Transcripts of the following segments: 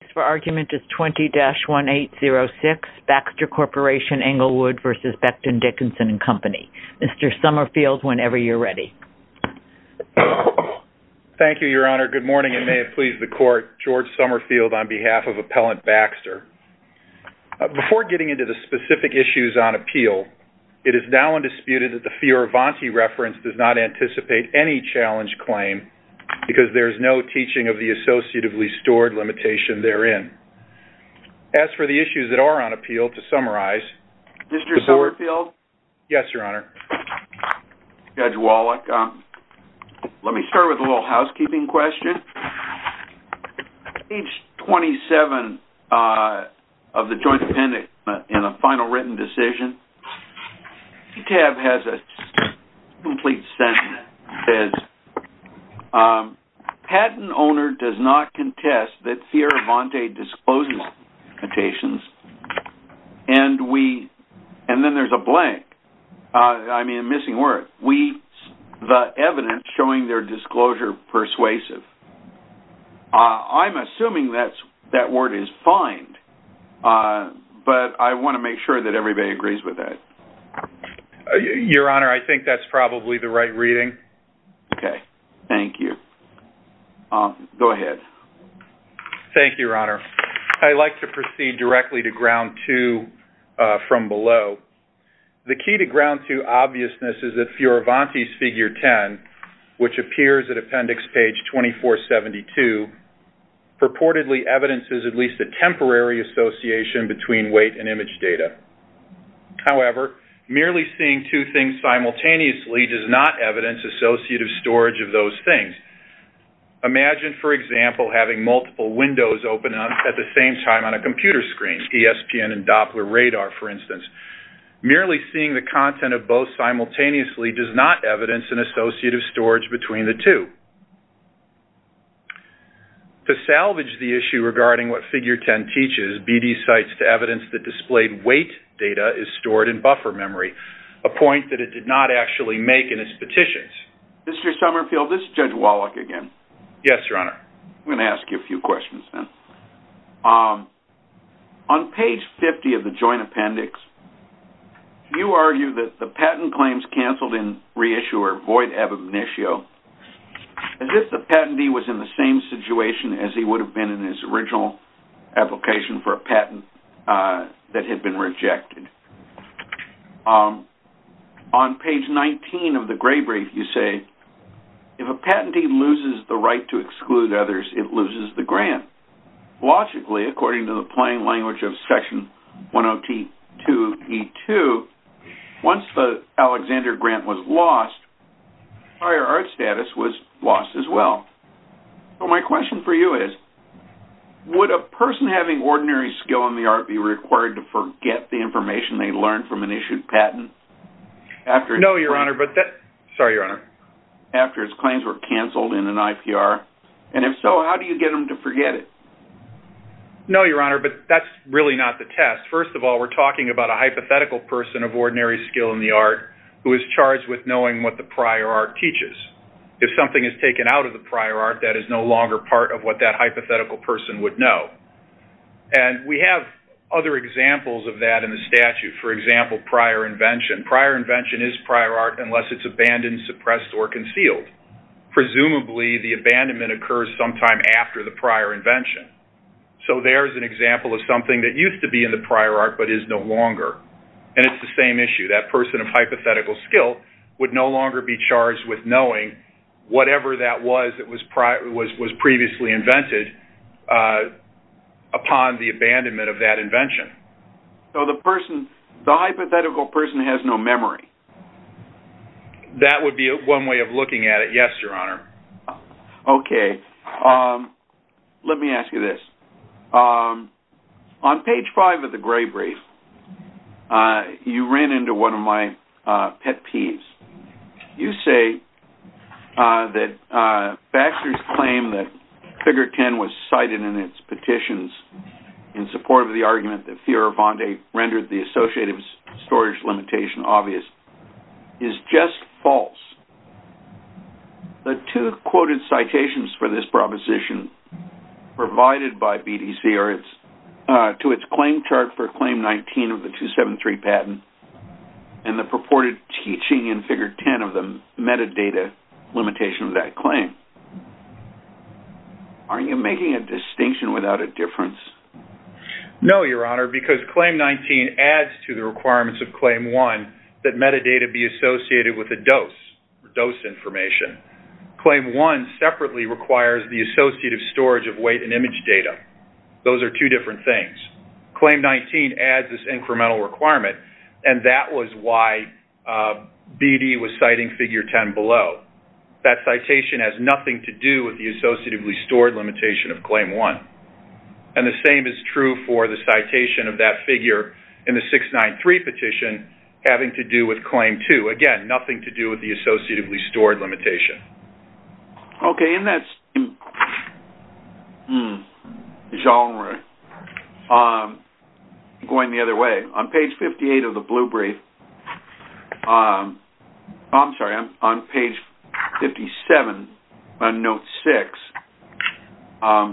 The case for argument is 20-1806, Baxter Corporation Englewood v. Becton, Dickinson and Company. Mr. Summerfield, whenever you're ready. Thank you, Your Honor. Good morning and may it please the Court. George Summerfield on behalf of Appellant Baxter. Before getting into the specific issues on appeal, it is now undisputed that the Fioravanti reference does not anticipate any challenge claim because there is no teaching of the associatively stored limitation therein. As for the issues that are on appeal, to summarize... Mr. Summerfield? Yes, Your Honor. Judge Wallach, let me start with a little housekeeping question. Page 27 of the Joint Appendix in a Final Written Decision. The tab has a complete sentence. It says, Patent owner does not contest that Fioravanti discloses limitations and we... and then there's a blank. I mean a missing word. The evidence showing their disclosure persuasive. I'm assuming that word is fined, but I want to make sure that everybody agrees with that. Your Honor, I think that's probably the right reading. Okay. Thank you. Go ahead. Thank you, Your Honor. I'd like to proceed directly to Ground Two from below. The key to Ground Two obviousness is that Fioravanti's Figure 10, which appears at Appendix Page 2472, purportedly evidences at least a temporary association between weight and image data. However, merely seeing two things simultaneously does not evidence associative storage of those things. Imagine, for example, having multiple windows open up at the same time on a computer screen, ESPN and Doppler radar, for instance. Merely seeing the content of both simultaneously does not evidence an associative storage between the two. To salvage the issue regarding what Figure 10 teaches, BD cites the evidence that displayed weight data is stored in buffer memory, a point that it did not actually make in its petitions. Mr. Summerfield, this is Judge Wallach again. Yes, Your Honor. I'm going to ask you a few questions then. On Page 50 of the Joint Appendix, you argue that the patent claims canceled in reissuer void ab initio, as if the patentee was in the same situation as he would have been in his original application for a patent that had been rejected. On Page 19 of the Gray Brief, you say, if a patentee loses the right to exclude others, it loses the grant. Logically, according to the plain language of Section 10T2E2, once the Alexander grant was lost, prior art status was lost as well. My question for you is, would a person having ordinary skill in the art be required to forget the information they learned from an issued patent? No, Your Honor. Sorry, Your Honor. After its claims were canceled in an IPR? And if so, how do you get them to forget it? No, Your Honor, but that's really not the test. First of all, we're talking about a hypothetical person of ordinary skill in the art who is charged with knowing what the prior art teaches. If something is taken out of the prior art, that is no longer part of what that hypothetical person would know. And we have other examples of that in the statute. For example, prior invention. Prior invention is prior art unless it's abandoned, suppressed, or concealed. Presumably, the abandonment occurs sometime after the prior invention. So there's an example of something that used to be in the prior art but is no longer. And it's the same issue. That person of hypothetical skill would no longer be charged with knowing whatever that was that was previously invented upon the abandonment of that invention. So the hypothetical person has no memory. That would be one way of looking at it. Yes, Your Honor. Okay. Let me ask you this. On page 5 of the Gray Brief, you ran into one of my pet peeves. You say that Baxter's claim that Figure 10 was cited in its petitions in support of the argument that Fioravanti rendered the associative storage limitation obvious is just false. The two quoted citations for this proposition provided by BDC to its claim chart for Claim 19 of the 273 patent and the purported teaching in Figure 10 of the metadata limitation of that claim. No, Your Honor, because Claim 19 adds to the requirements of Claim 1 that metadata be associated with a dose or dose information. Claim 1 separately requires the associative storage of weight and image data. Those are two different things. Claim 19 adds this incremental requirement, and that was why BD was citing Figure 10 below. That citation has nothing to do with the associatively stored limitation of Claim 1. And the same is true for the citation of that figure in the 693 petition having to do with Claim 2. Again, nothing to do with the associatively stored limitation. Okay. In that genre, going the other way, on page 58 of the Blue Brief, I'm sorry, on page 57 on Note 6, on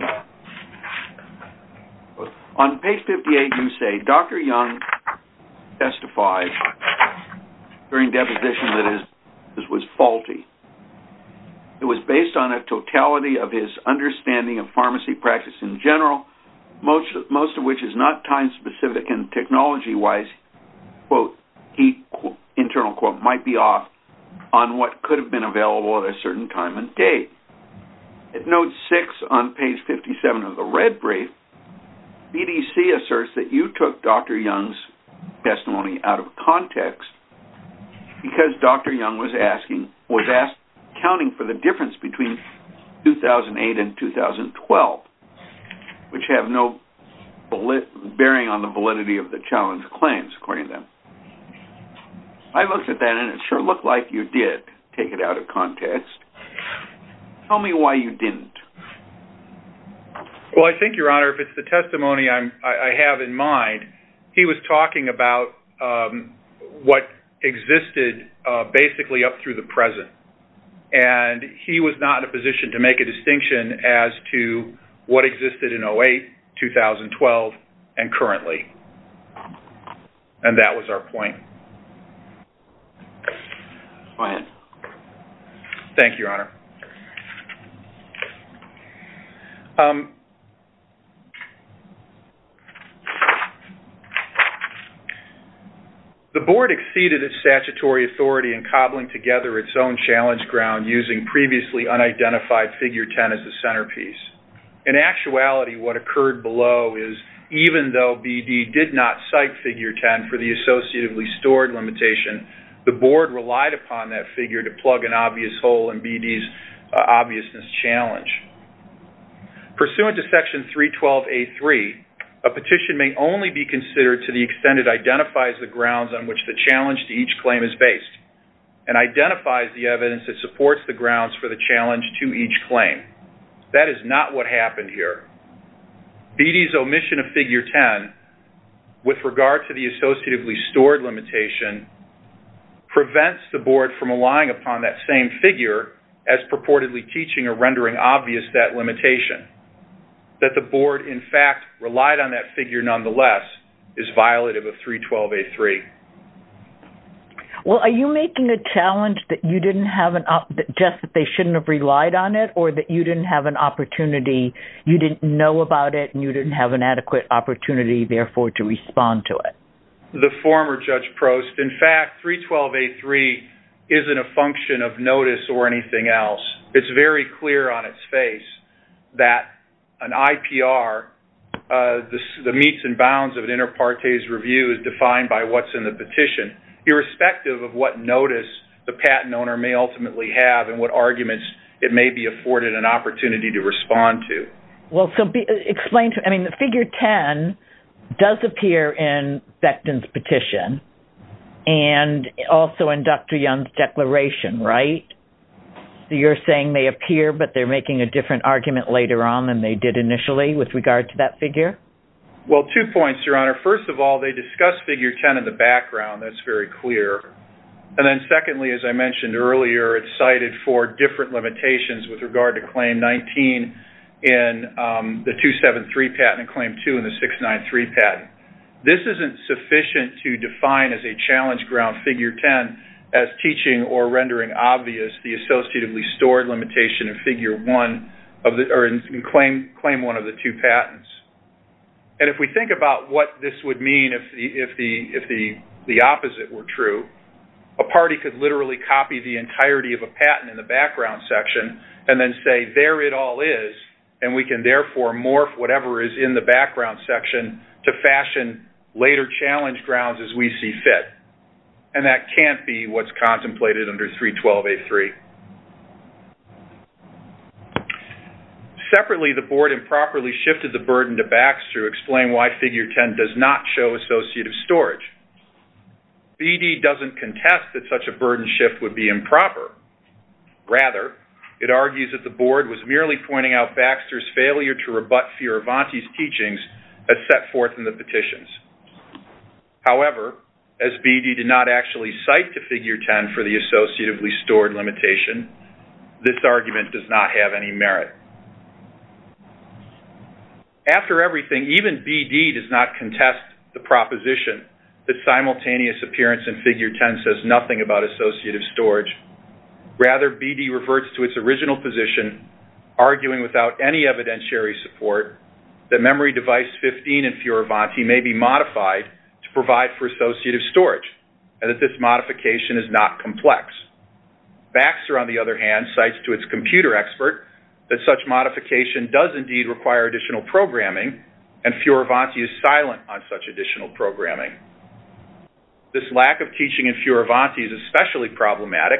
page 58 you say, Dr. Young testified during deposition that his diagnosis was faulty. It was based on a totality of his understanding of pharmacy practice in general, most of which is not time-specific and technology-wise, quote, internal quote, might be off on what could have been available at a certain time and date. At Note 6 on page 57 of the Red Brief, BDC asserts that you took Dr. Young's testimony out of context because Dr. Young was counting for the difference between 2008 and 2012, which have no bearing on the validity of the challenge claims, according to them. I looked at that, and it sure looked like you did take it out of context. Tell me why you didn't. Well, I think, Your Honor, if it's the testimony I have in mind, he was talking about what existed basically up through the present. And he was not in a position to make a distinction as to what existed in 2008, 2012, and currently. And that was our point. Go ahead. Thank you, Your Honor. The Board exceeded its statutory authority in cobbling together its own challenge ground using previously unidentified Figure 10 as the centerpiece. In actuality, what occurred below is, even though BD did not cite Figure 10 for the associatively stored limitation, the Board relied upon that figure to plug an obvious hole in BD's obviousness challenge. Pursuant to Section 312A3, a petition may only be considered to the extent it identifies the grounds on which the challenge to each claim is based and identifies the evidence that supports the grounds for the challenge to each claim. That is not what happened here. BD's omission of Figure 10 with regard to the associatively stored limitation prevents the Board from relying upon that same figure as purportedly teaching or rendering obvious that limitation. That the Board, in fact, relied on that figure, nonetheless, is violative of 312A3. Well, are you making a challenge that you didn't have an—just that they shouldn't have relied on it, or that you didn't have an opportunity—you didn't know about it and you didn't have an adequate opportunity, therefore, to respond to it? The former Judge Prost—in fact, 312A3 isn't a function of notice or anything else. It's very clear on its face that an IPR, the meets and bounds of an inter partes review is defined by what's in the petition, irrespective of what notice the patent owner may ultimately have and what arguments it may be afforded an opportunity to respond to. Well, so be—explain to—I mean, the Figure 10 does appear in Becton's petition and also in Dr. Young's declaration, right? You're saying they appear, but they're making a different argument later on than they did initially with regard to that figure? Well, two points, Your Honor. First of all, they discuss Figure 10 in the background. That's very clear. And then secondly, as I mentioned earlier, it's cited for different limitations with regard to Claim 19 in the 273 patent and Claim 2 in the 693 patent. This isn't sufficient to define as a challenge ground Figure 10 as teaching or rendering obvious the associatively stored limitation in Figure 1 of the—or in Claim 1 of the two patents. And if we think about what this would mean if the opposite were true, a party could literally copy the entirety of a patent in the background section and then say, there it all is, and we can therefore morph whatever is in the background section to fashion later challenge grounds as we see fit. And that can't be what's contemplated under 312A3. Separately, the Board improperly shifted the burden to Baxter to explain why Figure 10 does not show associative storage. BD doesn't contest that such a burden shift would be improper. Rather, it argues that the Board was merely pointing out Baxter's failure to rebut Fioravanti's teachings as set forth in the petitions. However, as BD did not actually cite to Figure 10 for the associatively stored limitation this argument does not have any merit. After everything, even BD does not contest the proposition that simultaneous appearance in Figure 10 says nothing about associative storage. Rather, BD reverts to its original position arguing without any evidentiary support that memory device 15 in Fioravanti may be modified to provide for associative storage and that this modification is not complex. Baxter, on the other hand, cites to its computer expert that such modification does indeed require additional programming and Fioravanti is silent on such additional programming. This lack of teaching in Fioravanti is especially problematic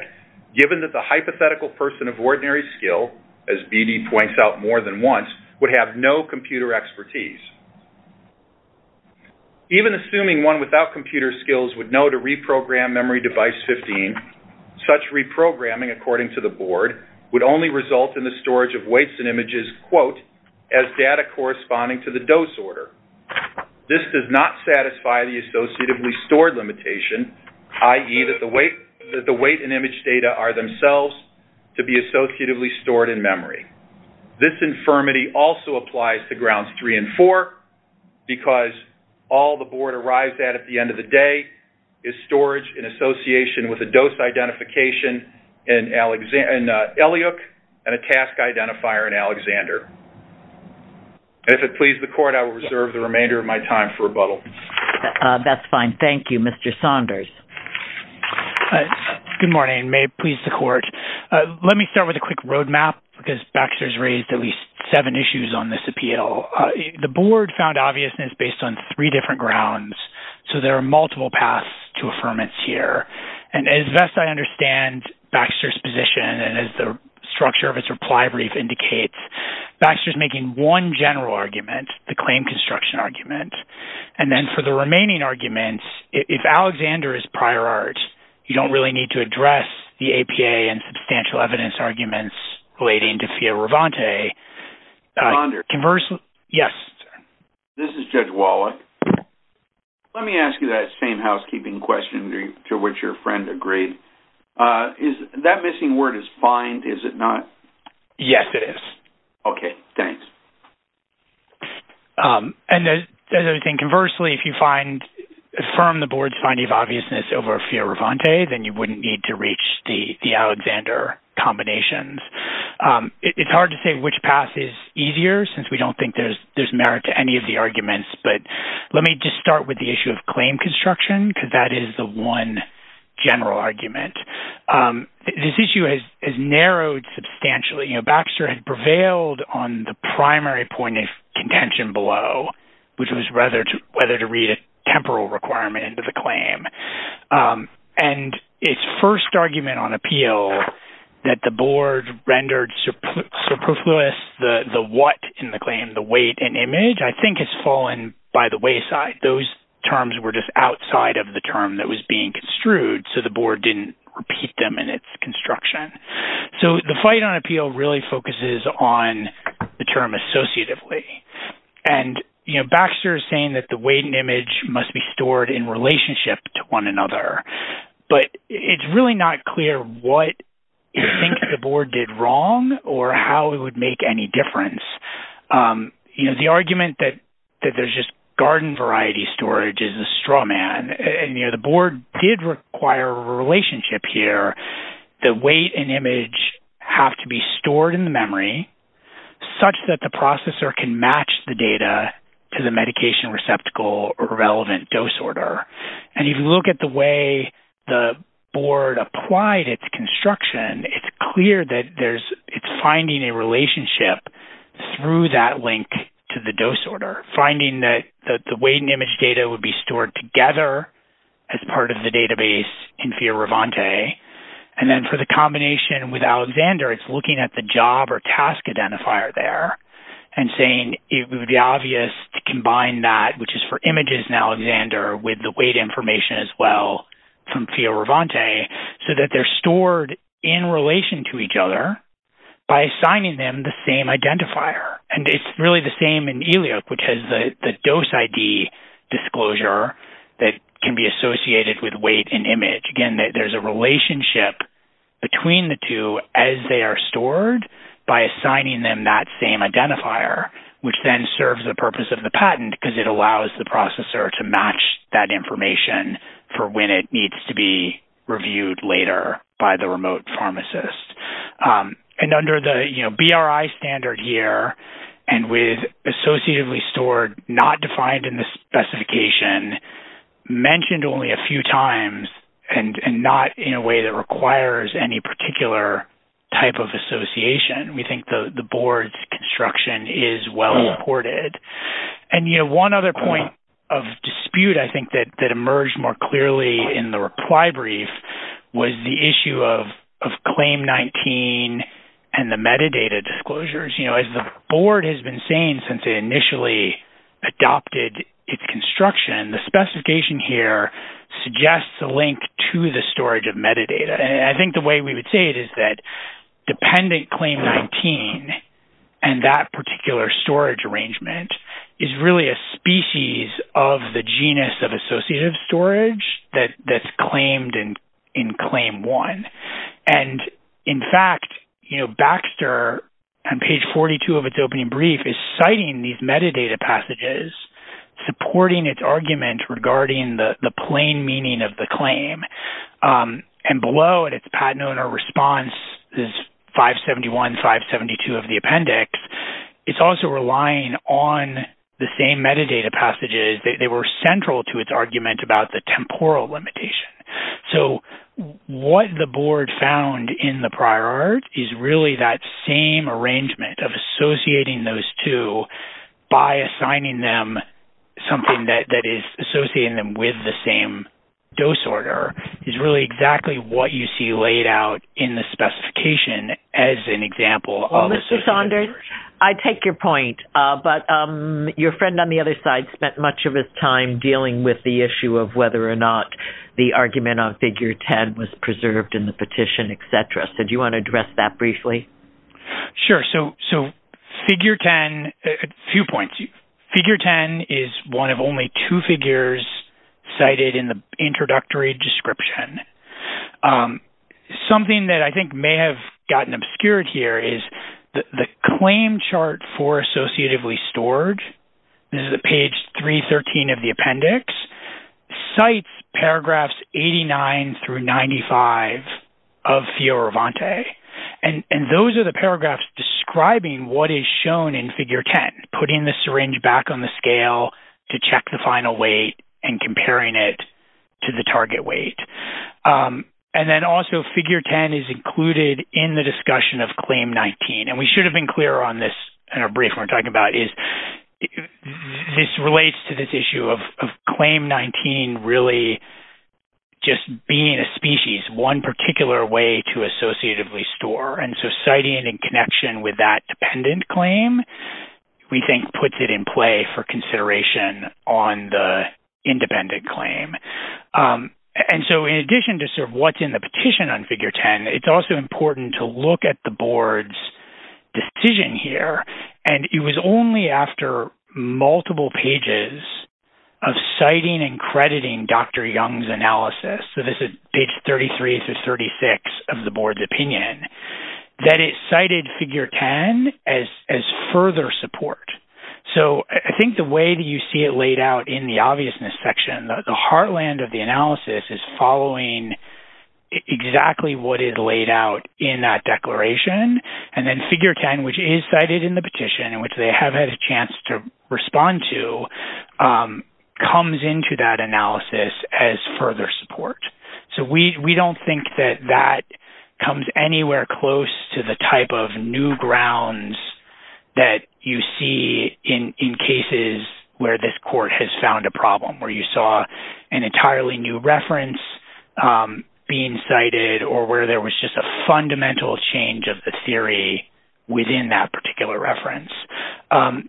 given that the hypothetical person of ordinary skill, as BD points out more than once, would have no computer expertise. Even assuming one without computer skills would know to reprogram memory device 15, such reprogramming, according to the Board, would only result in the storage of weights and images, quote, as data corresponding to the dose order. This does not satisfy the associatively stored limitation, i.e., that the weight and image data are themselves to be associatively stored in memory. This infirmity also applies to Grounds 3 and 4 because all the Board arrives at at the end of the day is storage in association with a dose identification in Eliuk and a task identifier in Alexander. And if it pleases the Court, I will reserve the remainder of my time for rebuttal. That's fine. Thank you. Mr. Saunders. Good morning. May it please the Court. Let me start with a quick roadmap because Baxter's raised at least seven issues on this appeal. The Board found obviousness based on three different grounds, so there are multiple paths to affirmance here. And as best I understand Baxter's position and as the structure of his reply brief indicates, Baxter's making one general argument, the claim construction argument. And then for the remaining arguments, if Alexander is prior art, you don't really need to address the APA and substantial evidence arguments relating to Fioravanti. Mr. Saunders. Yes. This is Judge Wallach. Let me ask you that same housekeeping question to which your friend agreed. That missing word is find, is it not? Yes, it is. Okay. Thanks. And conversely, if you affirm the Board's finding of obviousness over Fioravanti, then you wouldn't need to reach the Alexander combinations. It's hard to say which path is easier since we don't think there's merit to any of the arguments, but let me just start with the issue of claim construction because that is the one general argument. This issue is narrowed substantially. You know, Baxter had prevailed on the primary point of contention below, which was whether to read a temporal requirement into the claim. And its first argument on appeal that the Board rendered superfluous the what in the claim, the weight and image, I think has fallen by the wayside. Those terms were just outside of the term that was being construed. So the Board didn't repeat them in its construction. So the fight on appeal really focuses on the term associatively. And, you know, Baxter is saying that the weight and image must be stored in relationship to one another. But it's really not clear what you think the Board did wrong or how it would make any difference. You know, the argument that there's just garden variety storage is a straw man. And, you know, the Board did require a relationship here. The weight and image have to be stored in the memory such that the processor can match the data to the medication receptacle or relevant dose order. And if you look at the way the Board applied its construction, it's clear that it's finding a relationship through that link to the dose order, finding that the weight and image, and then for the combination with Alexander, it's looking at the job or task identifier there and saying it would be obvious to combine that, which is for images in Alexander, with the weight information as well from Fioravanti, so that they're stored in relation to each other by assigning them the same identifier. And it's really the same in ELIOC, which has the dose ID disclosure that can be associated with weight and image. Again, there's a relationship between the two as they are stored by assigning them that same identifier, which then serves the purpose of the patent because it allows the processor to match that information for when it needs to be reviewed later by the remote pharmacist. And under the BRI standard here and with associatively stored not defined in the way that requires any particular type of association, we think the Board's construction is well supported. And, you know, one other point of dispute, I think, that emerged more clearly in the reply brief was the issue of Claim 19 and the metadata disclosures. You know, as the Board has been saying since it initially adopted its construction, the metadata, I think the way we would say it is that dependent Claim 19 and that particular storage arrangement is really a species of the genus of associative storage that's claimed in Claim 1. And in fact, you know, Baxter on page 42 of its opening brief is citing these metadata passages, supporting its argument regarding the plain meaning of the claim. And below in its patent owner response is 571, 572 of the appendix. It's also relying on the same metadata passages. They were central to its argument about the temporal limitation. So what the Board found in the prior art is really that same arrangement of associating those two by assigning them something that is associating them with the same dose order is really exactly what you see laid out in the specification as an example of associative storage. Well, Mr. Saunders, I take your point. But your friend on the other side spent much of his time dealing with the issue of whether or not the argument on Figure 10 was preserved in the petition, et cetera. So do you want to address that briefly? Sure. So Figure 10, a few points. Figure 10 is one of only two figures cited in the introductory description. Something that I think may have gotten obscured here is the claim chart for associatively storage. This is page 313 of the appendix. Cites paragraphs 89 through 95 of Fioravanti. And those are the paragraphs describing what is shown in Figure 10, putting the syringe back on the scale to check the final weight and comparing it to the target weight. And then also, Figure 10 is included in the discussion of Claim 19. And we should have been clear on this in our brief we're talking about is this relates to this issue of Claim 19 really just being a species, one particular way to associatively store. And so citing it in connection with that dependent claim, we think, puts it in play for consideration on the independent claim. And so in addition to sort of what's in the petition on Figure 10, it's also important to look at the board's decision here. And it was only after multiple pages of citing and crediting Dr. Young's analysis. So this is page 33 through 36 of the board's opinion that it cited Figure 10 as further support. So I think the way that you see it laid out in the obviousness section, the heartland of the analysis is following exactly what is laid out in that declaration. And then Figure 10, which is cited in the petition and which they have had a chance to respond to, comes into that analysis as further support. So we don't think that that comes anywhere close to the type of new grounds that you see in cases where this court has found a problem, where you saw an entirely new reference being cited, or where there was just a fundamental change of the theory within that particular reference.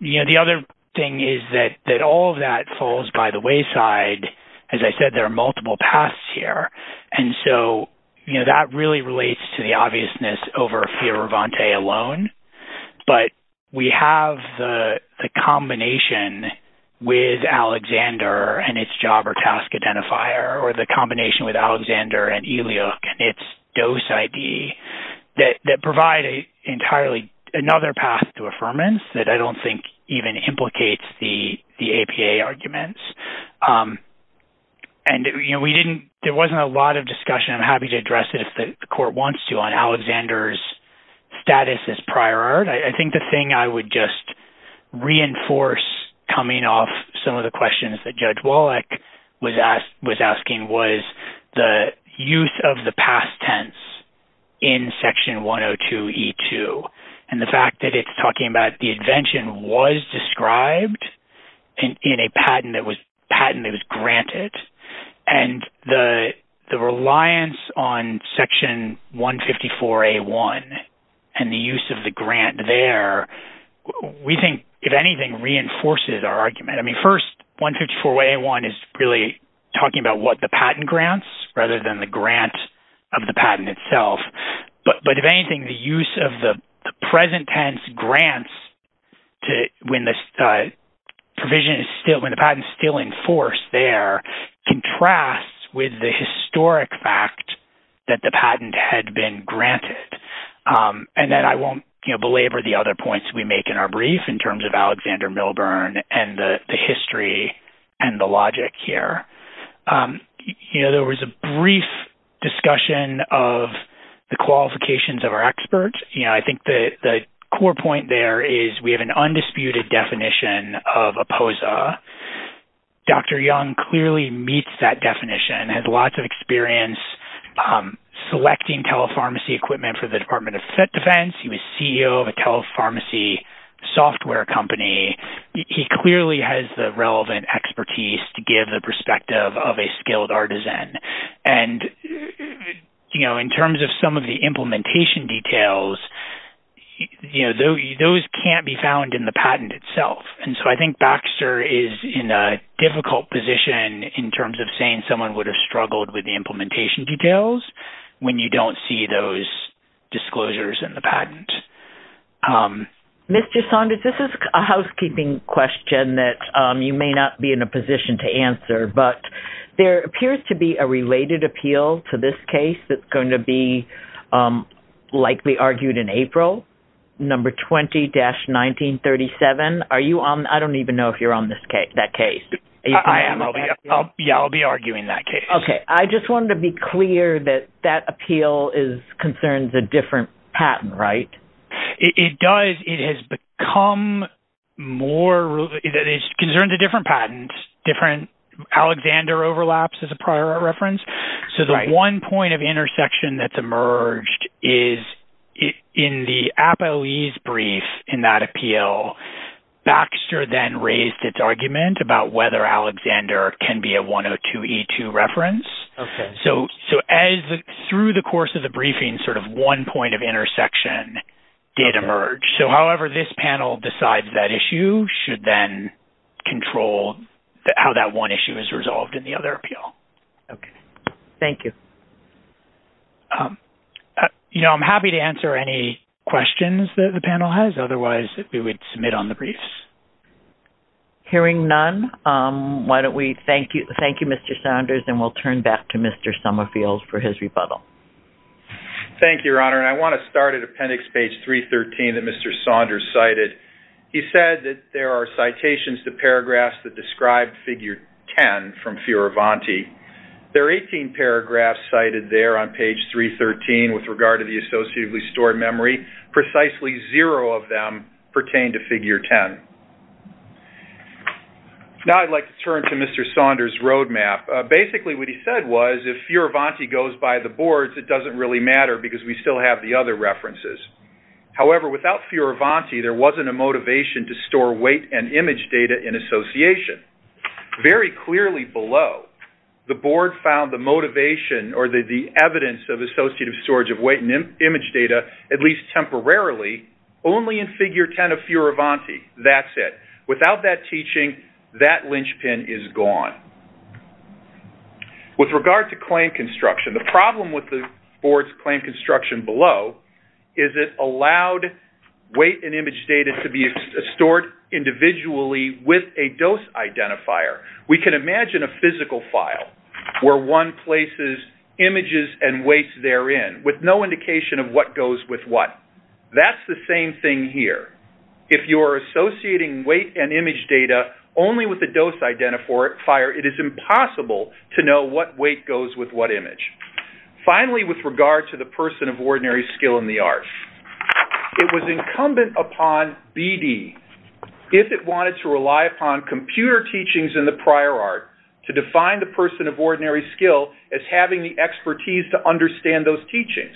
You know, the other thing is that all of that falls by the wayside. As I said, there are multiple paths here. And so, you know, that really relates to the obviousness over Fioravanti alone. But we have the combination with Alexander and its job or task identifier, or the combination with Alexander and Eliuk and its dose ID that provide entirely another path to affirmance that I don't think even implicates the APA arguments. And, you know, there wasn't a lot of discussion. I'm happy to address it if the court wants to on Alexander's status as prior art. I think the thing I would just reinforce coming off some of the questions that Judge Wallach was asking was the use of the past tense in Section 102E2, and the fact that it's talking about the invention was described in a patent that was granted. And the reliance on Section 154A1 and the use of the grant there, we think, if anything, reinforces our argument. I mean, first, 154A1 is really talking about what the patent grants rather than the grant of the patent itself. But if anything, the use of the present tense grants when the provision is still, when the provision is still, contrasts with the historic fact that the patent had been granted. And then I won't, you know, belabor the other points we make in our brief in terms of Alexander Milburn and the history and the logic here. You know, there was a brief discussion of the qualifications of our experts. You know, I think the core point there is we have an undisputed definition of APOSA. Dr. Young clearly meets that definition, has lots of experience selecting telepharmacy equipment for the Department of Defense. He was CEO of a telepharmacy software company. He clearly has the relevant expertise to give the perspective of a skilled artisan. And, you know, in terms of some of the implementation details, you know, those can't be found in the patent itself. And so I think Baxter is in a difficult position in terms of saying someone would have struggled with the implementation details when you don't see those disclosures in the patent. Mr. Saunders, this is a housekeeping question that you may not be in a position to answer, but there appears to be a related appeal to this case that's going to be likely argued in April, number 20-1937. Are you on? I don't even know if you're on that case. I am. Yeah, I'll be arguing that case. Okay. I just wanted to be clear that that appeal concerns a different patent, right? It does. It has become more... It concerns a different patent, different... Alexander overlaps is a prior reference. Right. So the one point of intersection that's emerged is in the APOE's brief in that appeal, Baxter then raised its argument about whether Alexander can be a 102E2 reference. Okay. So as through the course of the briefing, sort of one point of intersection did emerge. So however this panel decides that issue should then control how that one issue is resolved in the other appeal. Okay. Thank you. You know, I'm happy to answer any questions that the panel has. Otherwise, we would submit on the briefs. Hearing none, why don't we thank you, Mr. Saunders, and we'll turn back to Mr. Summerfield for his rebuttal. Thank you, Your Honor. And I want to start at appendix page 313 that Mr. Saunders cited. He said that there are citations to paragraphs that describe figure 10 from Fioravanti. There are 18 paragraphs cited there on page 313 with regard to the associatively stored memory. Precisely zero of them pertain to figure 10. Now I'd like to turn to Mr. Saunders' roadmap. Basically, what he said was if Fioravanti goes by the boards, it doesn't really matter because we still have the other references. However, without Fioravanti, there wasn't a motivation to store weight and image data in association. Very clearly below, the board found the motivation or the evidence of associative storage of weight and image data, at least temporarily, only in figure 10 of Fioravanti. That's it. Without that teaching, that linchpin is gone. With regard to claim construction, the problem with the board's claim construction below is it allowed weight and image data to be stored individually with a dose identifier. We can imagine a physical file where one places images and weights therein with no indication of what goes with what. That's the same thing here. If you're associating weight and image data only with a dose identifier, it is impossible to know what weight goes with what image. Finally, with regard to the person of ordinary skill in the art, it was incumbent upon BD if it wanted to rely upon computer teachings in the prior art to define the person of ordinary skill as having the expertise to understand those teachings.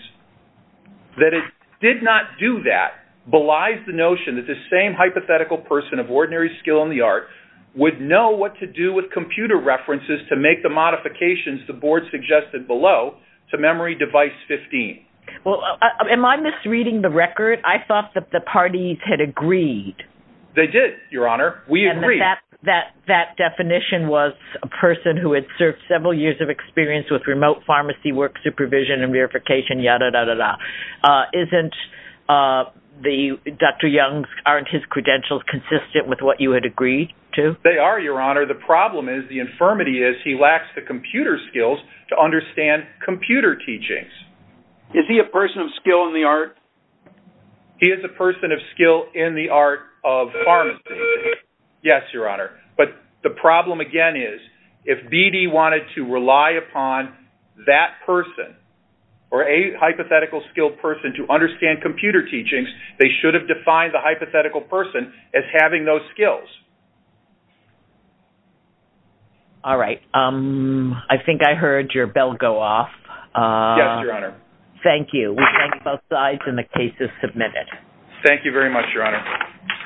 That it did not do that belies the notion that the same hypothetical person of ordinary skill in the art would know what to do with computer references to make the modifications the board suggested below to memory device 15. Well, am I misreading the record? I thought that the parties had agreed. They did, Your Honor. We agreed. And that definition was a person who had served several years of experience with remote pharmacy work supervision and verification, yada, yada, yada. Isn't Dr. Young's, aren't his credentials consistent with what you had agreed to? They are, Your Honor. The problem is, the infirmity is, he lacks the computer skills to understand computer teachings. Is he a person of skill in the art? He is a person of skill in the art of pharmacy. Yes, Your Honor. But the problem again is, if BD wanted to rely upon that person or a hypothetical skilled person to understand computer teachings, they should have defined the hypothetical person as having those skills. All right. I think I heard your bell go off. Yes, Your Honor. Thank you. We thank both sides and the case is submitted. Thank you very much, Your Honor.